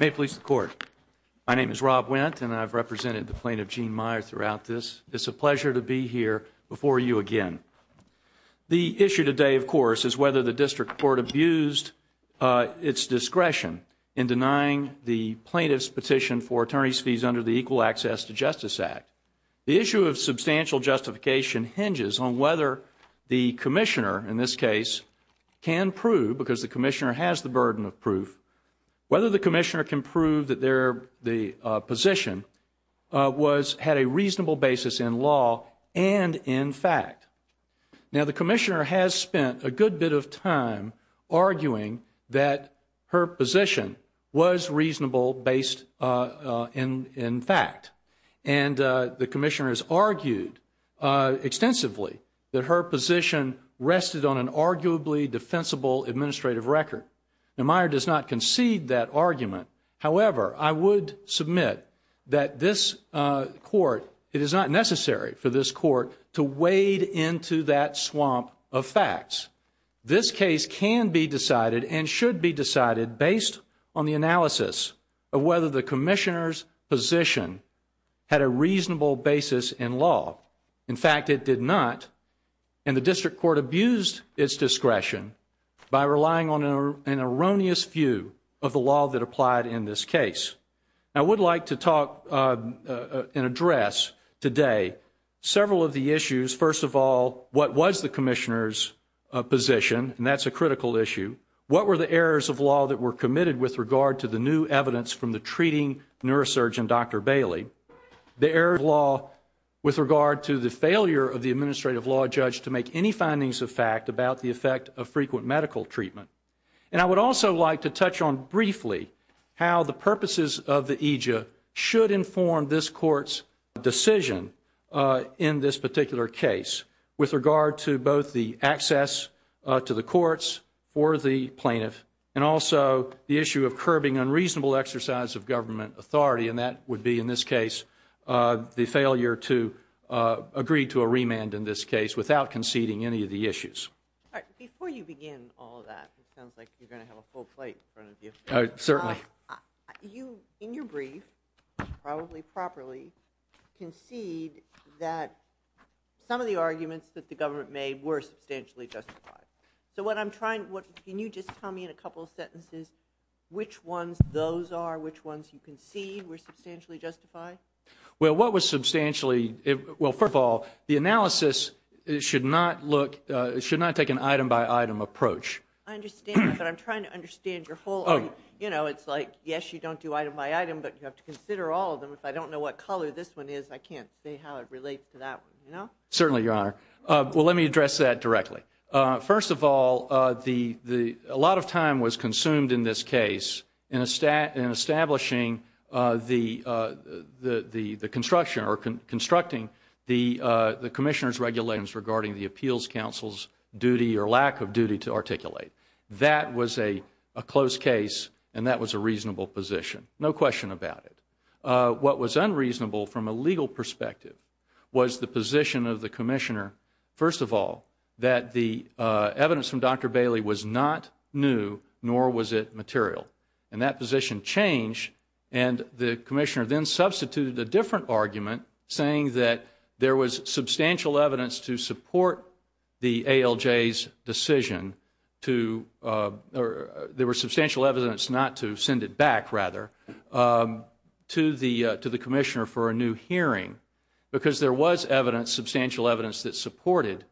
May it please the Court. My name is Rob Wendt and I've represented the plaintiff, Gene Meyer, throughout this. It's a pleasure to be here before you again. The issue today, of course, is whether the District Court abused its discretion in denying the plaintiff's petition for attorney's fees under the Equal Access to Justice Act. The issue of substantial justification hinges on whether the commissioner, in this case, can prove, because the commissioner has the burden of proof, whether the commissioner can prove that their position had a reasonable basis in law and in fact. And the commissioner has argued extensively that her position rested on an arguably defensible administrative record. Now, Meyer does not concede that argument. basis in law. In fact, it did not. And the District Court abused its discretion by relying on an erroneous view of the law that applied in this case. I would like to talk and address today several of the issues. First of all, what was the commissioner's position? And that's a critical issue. What were the errors of law that were committed with regard to the new evidence from the treating neurosurgeon, Dr. Bailey? The errors of law with regard to the failure of the administrative law judge to make any findings of fact about the effect of frequent medical treatment. And I would also like to touch on briefly how the purposes of the AJA should inform this Court's decision in this particular case with regard to both the access to the courts for the plaintiff and also the issue of curbing unreasonable exercise of government authority. And that would be, in this case, the failure to agree to a remand in this case without conceding any of the issues. All right. Before you begin all of that, it sounds like you're going to have a full plate in front of you. Certainly. You, in your brief, probably properly, concede that some of the arguments that the government made were substantially justified. So what I'm trying – can you just tell me in a couple of sentences which ones those are, which ones you concede were substantially justified? Well, what was substantially – well, first of all, the analysis should not look – should not take an item by item approach. I understand that, but I'm trying to understand your whole – you know, it's like, yes, you don't do item by item, but you have to consider all of them. If I don't know what color this one is, I can't say how it relates to that one, you know? Certainly, Your Honor. Well, let me address that directly. First of all, a lot of time was consumed in this case in establishing the construction or constructing the Commissioner's regulations regarding the Appeals Council's duty or lack of duty to articulate. That was a close case, and that was a reasonable position. No question about it. What was unreasonable from a legal perspective was the position of the Commissioner, first of all, that the evidence from Dr. Bailey was not new, nor was it material. And that position changed, and the Commissioner then substituted a different argument saying that there was substantial evidence to support the ALJ's decision to – or there was substantial evidence not to send it back, rather, to the Commissioner for a new hearing because there was evidence, substantial evidence, that supported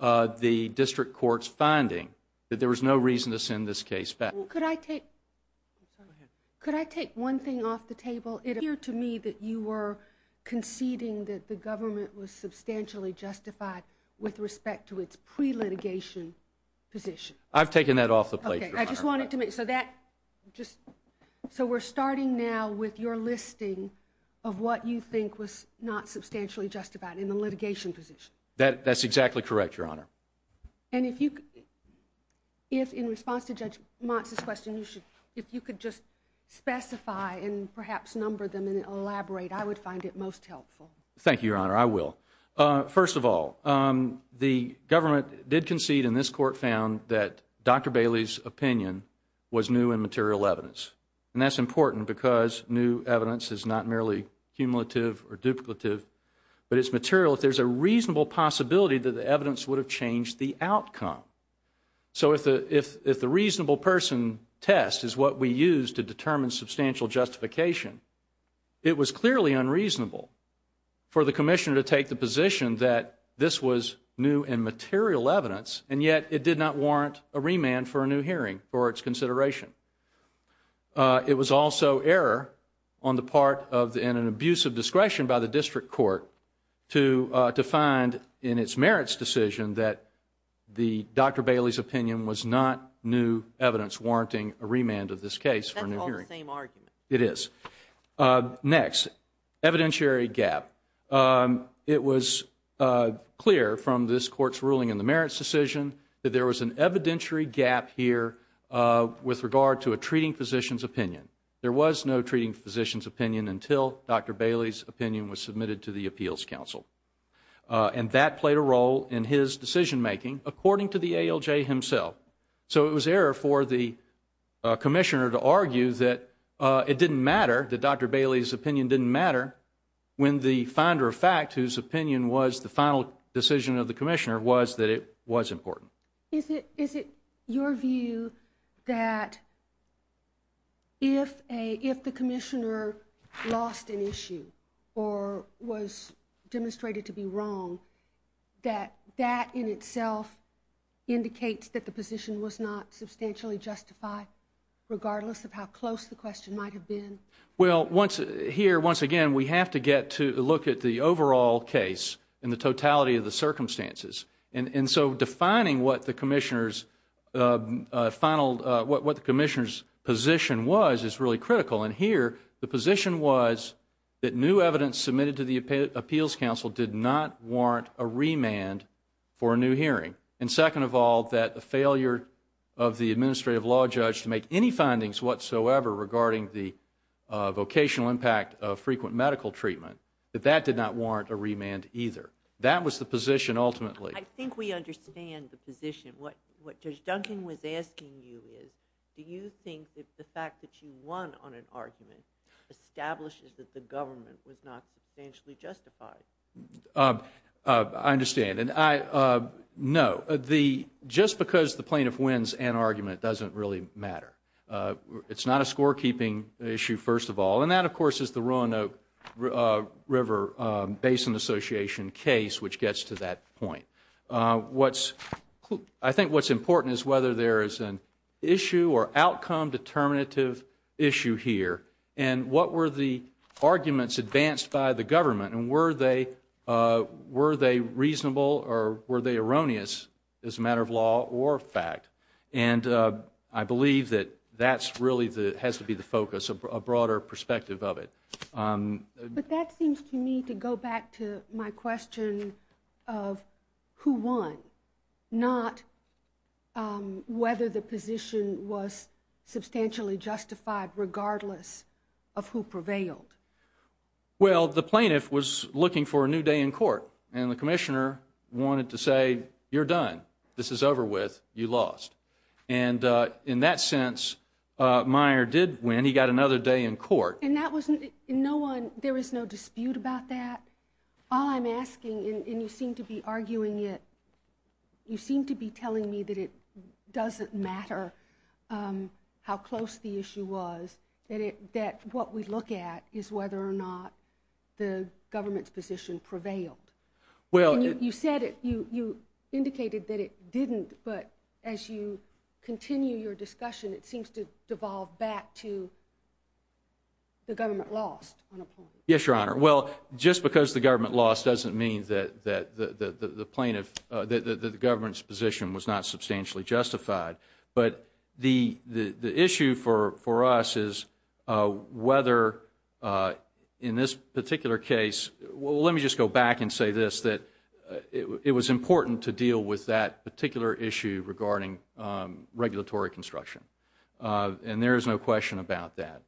the district court's finding that there was no reason to send this case back. Could I take one thing off the table? It appeared to me that you were conceding that the government was substantially justified with respect to its pre-litigation position. I've taken that off the plate, Your Honor. Okay, I just wanted to make – so that – just – so we're starting now with your listing of what you think was not substantially justified in the litigation position. That's exactly correct, Your Honor. And if you – if, in response to Judge Motz's question, you should – if you could just specify and perhaps number them and elaborate, I would find it most helpful. Thank you, Your Honor. I will. First of all, the government did concede, and this court found, that Dr. Bailey's opinion was new and material evidence. And that's important because new evidence is not merely cumulative or duplicative, but it's material. If there's a reasonable possibility that the evidence would have changed the outcome. So if the reasonable person test is what we use to determine substantial justification, it was clearly unreasonable for the Commissioner to take the position that this was new and material evidence, and yet it did not warrant a remand for a new hearing for its consideration. It was also error on the part of – and an abuse of discretion by the district court to find in its merits decision that the – Dr. Bailey's opinion was not new evidence warranting a remand of this case for a new hearing. That's all the same argument. It is. Next, evidentiary gap. It was clear from this court's ruling in the merits decision that there was an evidentiary gap here with regard to a treating physician's opinion. There was no treating physician's opinion until Dr. Bailey's opinion was submitted to the appeals council. And that played a role in his decision making according to the ALJ himself. So it was error for the Commissioner to argue that it didn't matter, that Dr. Bailey's opinion didn't matter, when the finder of fact, whose opinion was the final decision of the Commissioner, was that it was important. Is it your view that if the Commissioner lost an issue or was demonstrated to be wrong, that that in itself indicates that the position was not substantially justified, regardless of how close the question might have been? Well, here, once again, we have to get to look at the overall case and the totality of the circumstances. And so defining what the Commissioner's position was is really critical. And here, the position was that new evidence submitted to the appeals council did not warrant a remand for a new hearing. And second of all, that the failure of the administrative law judge to make any findings whatsoever regarding the vocational impact of frequent medical treatment, that that did not warrant a remand either. That was the position ultimately. I think we understand the position. What Judge Duncan was asking you is, do you think that the fact that you won on an argument establishes that the government was not substantially justified? I understand. No. Just because the plaintiff wins an argument doesn't really matter. It's not a scorekeeping issue, first of all. And that, of course, is the Roanoke River Basin Association case, which gets to that point. I think what's important is whether there is an issue or outcome determinative issue here. And what were the arguments advanced by the government? And were they reasonable or were they erroneous as a matter of law or fact? And I believe that that really has to be the focus, a broader perspective of it. But that seems to me to go back to my question of who won, not whether the position was substantially justified regardless of who prevailed. Well, the plaintiff was looking for a new day in court. And the commissioner wanted to say, you're done. This is over with. You lost. And in that sense, Meyer did win. He got another day in court. And that wasn't – no one – there was no dispute about that? All I'm asking – and you seem to be arguing it – you seem to be telling me that it doesn't matter how close the issue was, that what we look at is whether or not the government's position prevailed. You said it. You indicated that it didn't. But as you continue your discussion, it seems to devolve back to the government lost on a point. Yes, Your Honor. Well, just because the government lost doesn't mean that the government's position was not substantially justified. But the issue for us is whether in this particular case – well, let me just go back and say this, that it was important to deal with that particular issue regarding regulatory construction. And there is no question about that.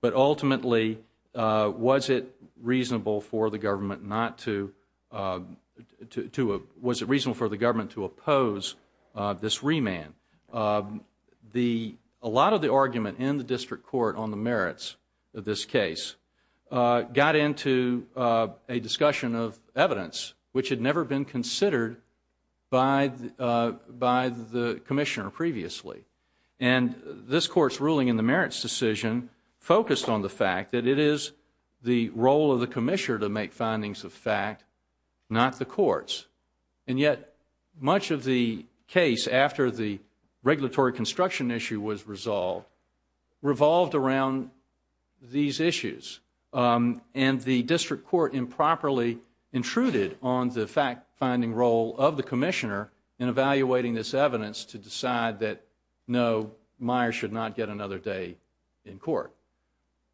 But ultimately, was it reasonable for the government to oppose this remand? A lot of the argument in the district court on the merits of this case got into a discussion of evidence which had never been considered by the commissioner previously. And this court's ruling in the merits decision focused on the fact that it is the role of the commissioner to make findings of fact, not the courts. And yet, much of the case after the regulatory construction issue was resolved revolved around these issues. And the district court improperly intruded on the fact-finding role of the commissioner in evaluating this evidence to decide that, no, Myers should not get another day in court.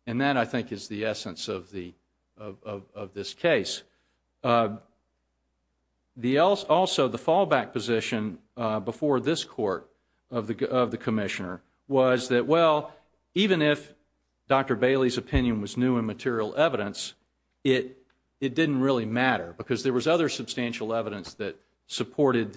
And that, I think, is the essence of this case. Also, the fallback position before this court of the commissioner was that, well, even if Dr. Bailey's opinion was new and material evidence, it didn't really matter because there was other substantial evidence that would support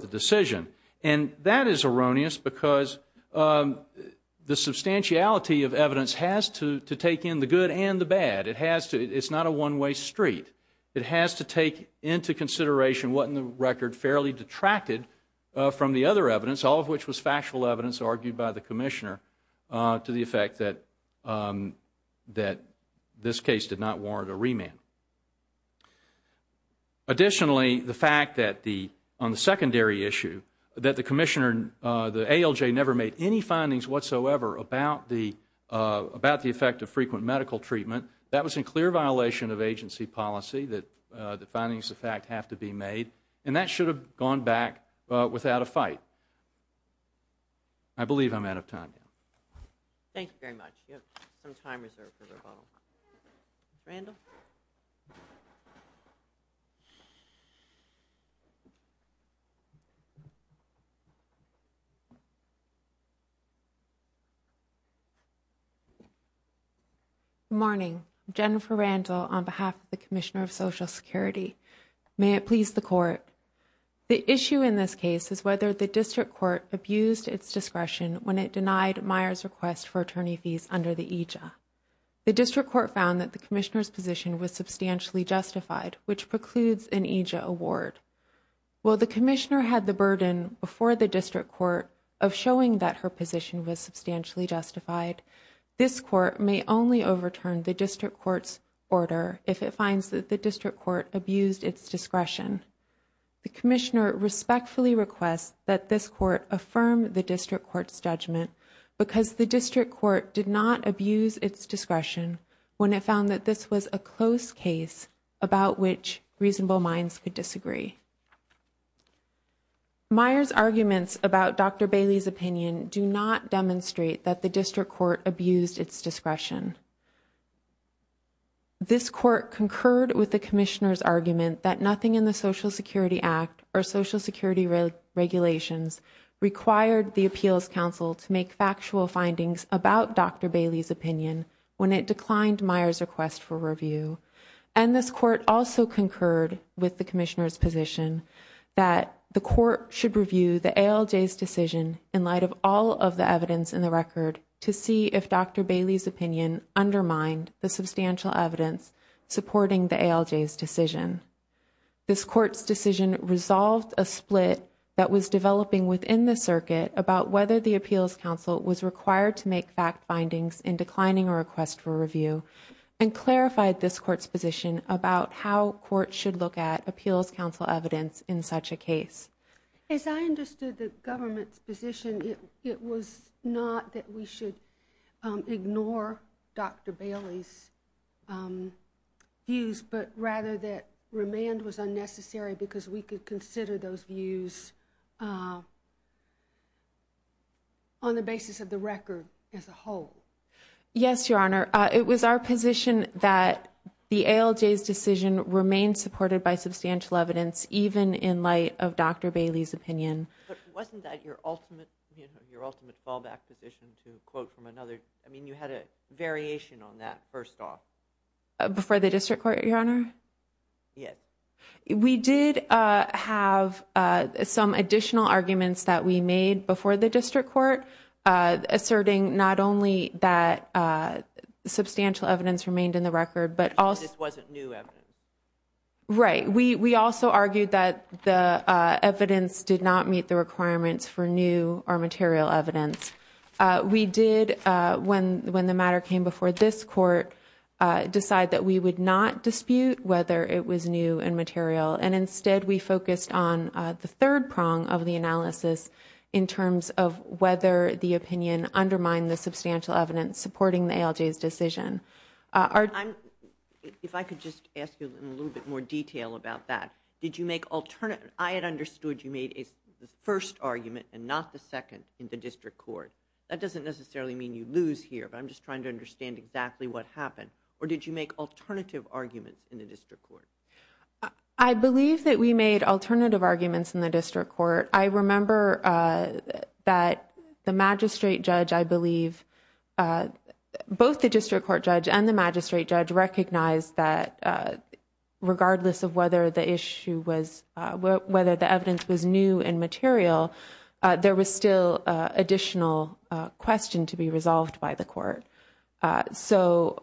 the decision. And that is erroneous because the substantiality of evidence has to take in the good and the bad. It's not a one-way street. It has to take into consideration what, in the record, fairly detracted from the other evidence, all of which was factual evidence argued by the commissioner to the effect that this case did not warrant a remand. Additionally, the fact that on the secondary issue that the commissioner, the ALJ, never made any findings whatsoever about the effect of frequent medical treatment, that was in clear violation of agency policy that the findings of fact have to be made. And that should have gone back without a fight. I believe I'm out of time now. Thank you very much. You have some time reserved for rebuttal. Randall? Good morning. Jennifer Randall on behalf of the Commissioner of Social Security. May it please the court. The issue in this case is whether the district court abused its discretion when it denied Myers' request for attorney fees under the EJA. The district court found that the commissioner's position was substantially justified, which precludes an EJA award. While the commissioner had the burden before the district court of showing that her position was substantially justified, this court may only overturn the district court's order if it finds that the district court abused its discretion. The commissioner respectfully requests that this court affirm the district court's judgment because the district court did not abuse its discretion when it found that this was a close case about which reasonable minds could disagree. Myers' arguments about Dr. Bailey's opinion do not demonstrate that the district court abused its discretion. This court concurred with the commissioner's argument that nothing in the Social Security Act or Social Security regulations required the Appeals Council to make factual findings about Dr. Bailey's opinion when it declined Myers' request for review. And this court also concurred with the commissioner's position that the court should review the ALJ's decision in light of all of the evidence in the record to see if Dr. Bailey's opinion undermined the substantial evidence supporting the ALJ's decision. This court's decision resolved a split that was developing within the circuit about whether the Appeals Council was required to make factual findings in declining a request for review and clarified this court's position about how courts should look at Appeals Council evidence in such a case. As I understood the government's position, it was not that we should ignore Dr. Bailey's views, but rather that remand was Yes, Your Honor. It was our position that the ALJ's decision remained supported by substantial evidence even in light of Dr. Bailey's opinion. But wasn't that your ultimate fallback position to quote from another, I mean you had a variation on that first off. Before the district court, Your Honor? Yes. We did have some additional arguments that we made before the district court asserting not only that substantial evidence remained in the record, but also You said this wasn't new evidence. Right. We also argued that the evidence did not meet the requirements for new or material evidence. We did, when the matter came before this court, decide that we would not dispute whether it was new and material and instead we focused on the third prong of the analysis in terms of whether the opinion undermined the substantial evidence supporting the ALJ's decision. If I could just ask you in a little bit more detail about that. I had understood you made the first argument and not the second in the district court. That doesn't necessarily mean you lose here, but I'm just trying to understand exactly what happened. Or did you make alternative arguments in the district court? I believe that we made alternative arguments in the district court. I remember that the magistrate judge, I believe, both the district court judge and the magistrate judge recognized that regardless of whether the issue was, whether the evidence was new and material, there was still additional question to be resolved by the court. So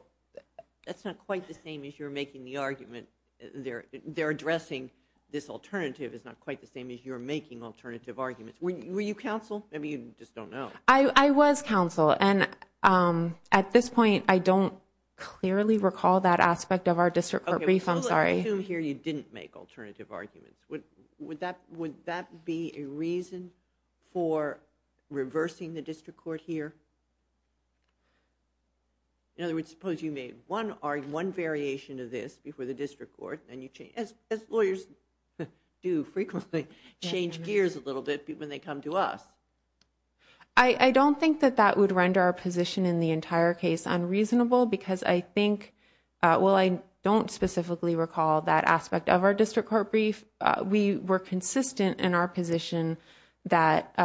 that's not quite the same as you're making the argument. They're addressing this alternative is not quite the same as you're making alternative arguments. Were you counsel? Maybe you just don't know. I was counsel. And at this point, I don't clearly recall that aspect of our district court brief. I'm sorry. I assume here you didn't make alternative arguments. Would that be a reason for reversing the district court here? In other words, suppose you made one variation of this before the district court and you changed. As lawyers do frequently, change gears a little bit when they come to us. I don't think that that would render our position in the entire case unreasonable because I think, well, I don't specifically recall that aspect of our district court brief. We were consistent in our position that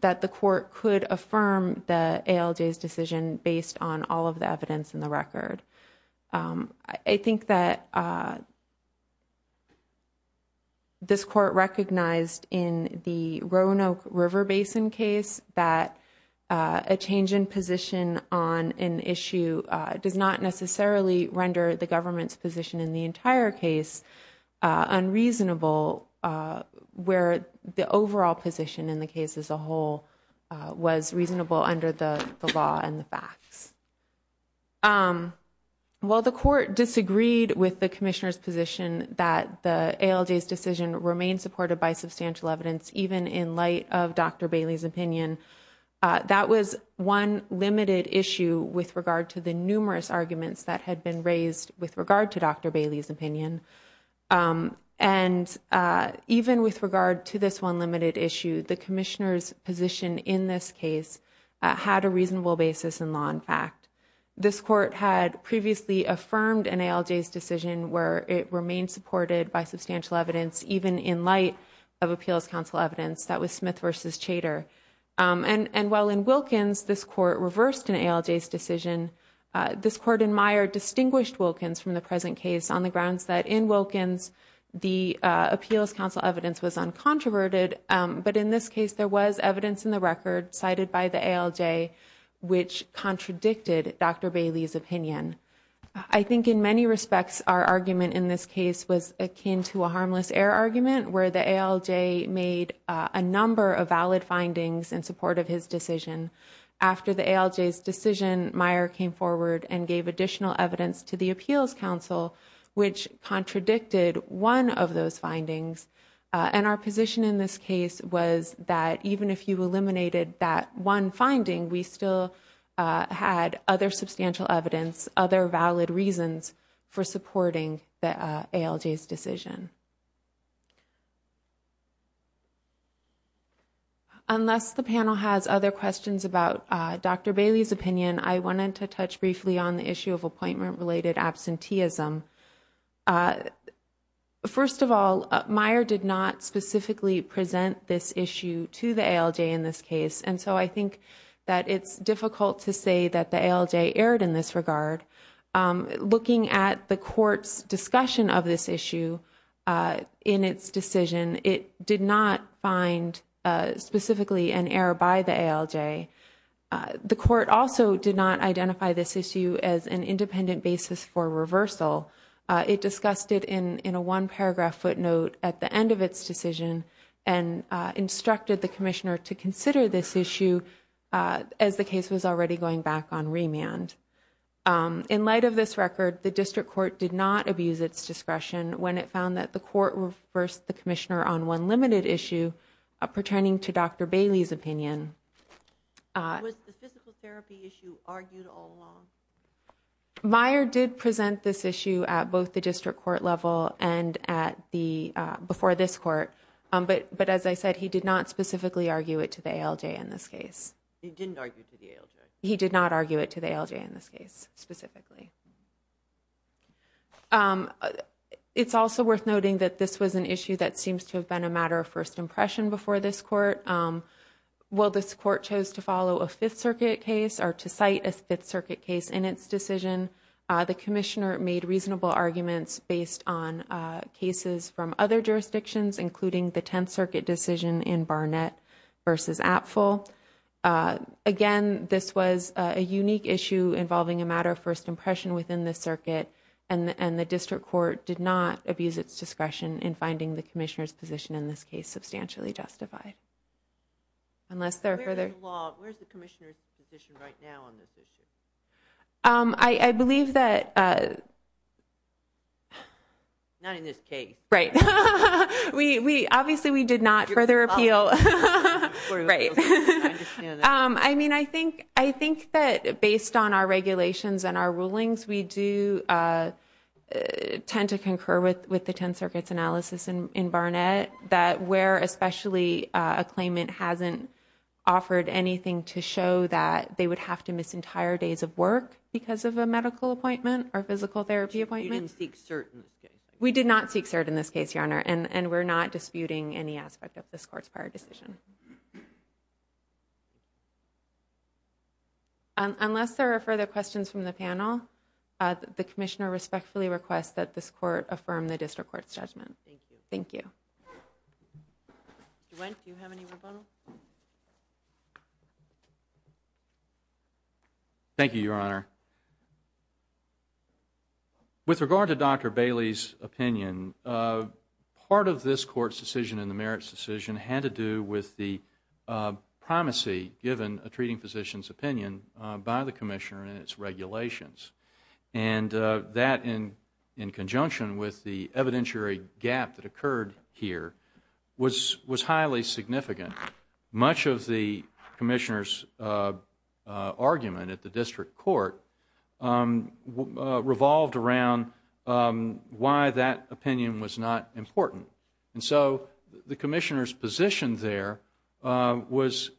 that the court could affirm the ALJ's decision based on all of the evidence in the record. I think that this court recognized in the Roanoke River Basin case that a change in position on an issue does not necessarily render the government's position in the entire case unreasonable where the overall position in the case as a whole was reasonable under the law and the facts. While the court disagreed with the commissioner's position that the ALJ's decision remained supported by substantial evidence, even in light of Dr. Bailey's opinion, that was one limited issue with regard to the numerous arguments that had been raised with regard to Dr. Bailey's opinion. And even with regard to this one limited issue, the commissioner's position in this case had a reasonable basis in law and fact. This court had previously affirmed an ALJ's decision where it remained supported by substantial evidence, even in light of Appeals Council evidence. That was Smith v. Chater. And while in Wilkins this court reversed an ALJ's decision, this court in Meyer distinguished Wilkins from the present case on the grounds that in Wilkins the Appeals Council evidence was uncontroverted. But in this case there was evidence in the record cited by the ALJ which contradicted Dr. Bailey's opinion. I think in many respects our argument in this case was akin to a harmless error argument where the ALJ made a number of valid findings in support of his decision. After the ALJ's decision, Meyer came forward and gave additional evidence to the Appeals Council which contradicted one of those findings. And our position in this case was that even if you eliminated that one finding, we still had other substantial evidence, other valid reasons for supporting the ALJ's decision. Unless the panel has other questions about Dr. Bailey's opinion, I wanted to touch briefly on the issue of appointment-related absenteeism. First of all, Meyer did not specifically present this issue to the ALJ in this case. And so I think that it's difficult to say that the ALJ erred in this regard. Looking at the court's discussion of this issue in its decision, it did not find specifically an error by the ALJ. The court also did not identify this issue as an independent basis for reversal. It discussed it in a one-paragraph footnote at the end of its decision and instructed the commissioner to consider this issue as the case was already going back on remand. In light of this record, the district court did not abuse its discretion when it found that the court reversed the commissioner on one limited issue pertaining to Dr. Bailey's opinion. Was the physical therapy issue argued all along? Meyer did present this issue at both the district court level and before this court. But as I said, he did not specifically argue it to the ALJ in this case. He didn't argue it to the ALJ? He did not argue it to the ALJ in this case, specifically. It's also worth noting that this was an issue that seems to have been a matter of first impression before this court. While this court chose to follow a Fifth Circuit case or to cite a Fifth Circuit case in its decision, the commissioner made reasonable arguments based on cases from other jurisdictions, including the Tenth Circuit decision in Barnett v. Apfel. Again, this was a unique issue involving a matter of first impression within the circuit. And the district court did not abuse its discretion in finding the commissioner's position in this case substantially justified. Unless there are further... Where is the commissioner's position right now on this issue? I believe that... Not in this case. Right. Obviously, we did not further appeal. Right. I mean, I think that based on our regulations and our rulings, we do tend to concur with the Tenth Circuit's analysis in Barnett, that where especially a claimant hasn't offered anything to show that they would have to miss entire days of work because of a medical appointment or physical therapy appointment. You didn't seek cert in this case. Yes, Your Honor. And we're not disputing any aspect of this court's prior decision. Unless there are further questions from the panel, the commissioner respectfully requests that this court affirm the district court's judgment. Thank you. Thank you. DeWitt, do you have any more questions? Thank you, Your Honor. With regard to Dr. Bailey's opinion, part of this court's decision and the merits decision had to do with the primacy given a treating physician's opinion by the commissioner and its regulations. And that, in conjunction with the evidentiary gap that occurred here, was highly significant. Much of the commissioner's argument at the district court revolved around why that opinion was not important. And so the commissioner's position there was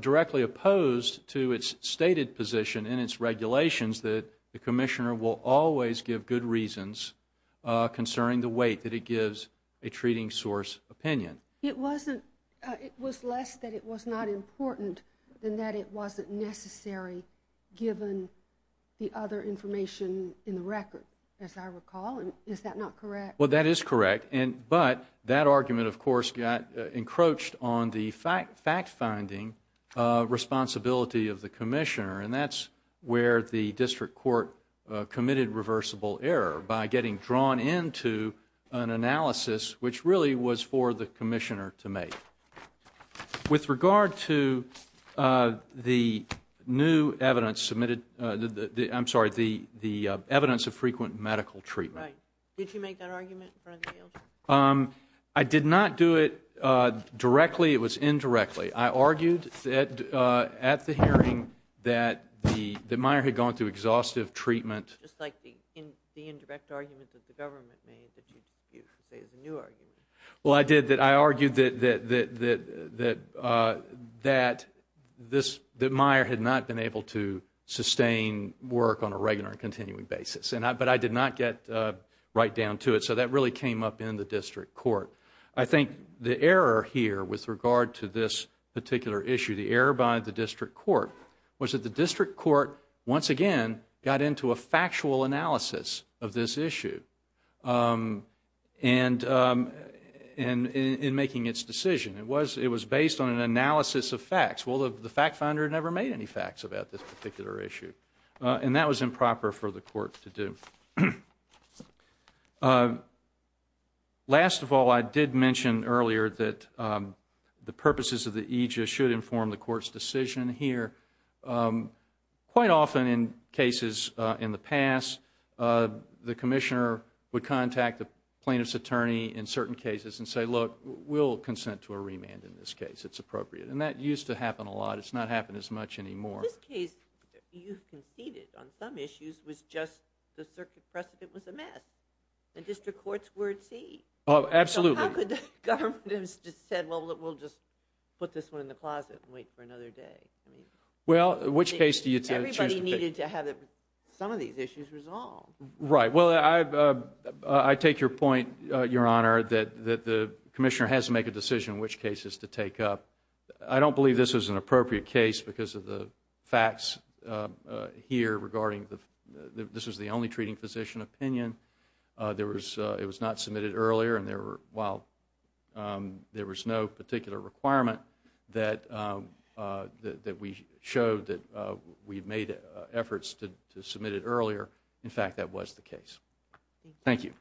directly opposed to its stated position in its regulations that the commissioner will always give good reasons concerning the weight that it gives a treating source opinion. It was less that it was not important than that it wasn't necessary, given the other information in the record, as I recall. Is that not correct? Well, that is correct. But that argument, of course, got encroached on the fact-finding responsibility of the commissioner. And that's where the district court committed reversible error, by getting drawn into an analysis which really was for the commissioner to make. With regard to the new evidence submitted, I'm sorry, the evidence of frequent medical treatment. Right. Did you make that argument in front of the judge? I did not do it directly. It was indirectly. I argued at the hearing that Meyer had gone through exhaustive treatment. Just like the indirect argument that the government made that you say is a new argument. Well, I did. I argued that Meyer had not been able to sustain work on a regular and continuing basis. But I did not get right down to it. So that really came up in the district court. I think the error here with regard to this particular issue, the error by the district court, was that the district court, once again, got into a factual analysis of this issue in making its decision. It was based on an analysis of facts. Well, the fact-finder never made any facts about this particular issue. And that was improper for the court to do. Last of all, I did mention earlier that the purposes of the aegis should inform the court's decision here. Quite often in cases in the past, the commissioner would contact the plaintiff's attorney in certain cases and say, look, we'll consent to a remand in this case. It's appropriate. And that used to happen a lot. It's not happening as much anymore. Well, in this case, you conceded on some issues was just the circuit precedent was a mess. And district courts were at sea. Oh, absolutely. So how could the government have said, well, we'll just put this one in the closet and wait for another day? Well, which case do you choose? Everybody needed to have some of these issues resolved. Right. Well, I take your point, Your Honor, that the commissioner has to make a decision which cases to take up. I don't believe this is an appropriate case because of the facts here regarding this is the only treating physician opinion. It was not submitted earlier. And there was no particular requirement that we showed that we made efforts to submit it earlier. In fact, that was the case. Thank you.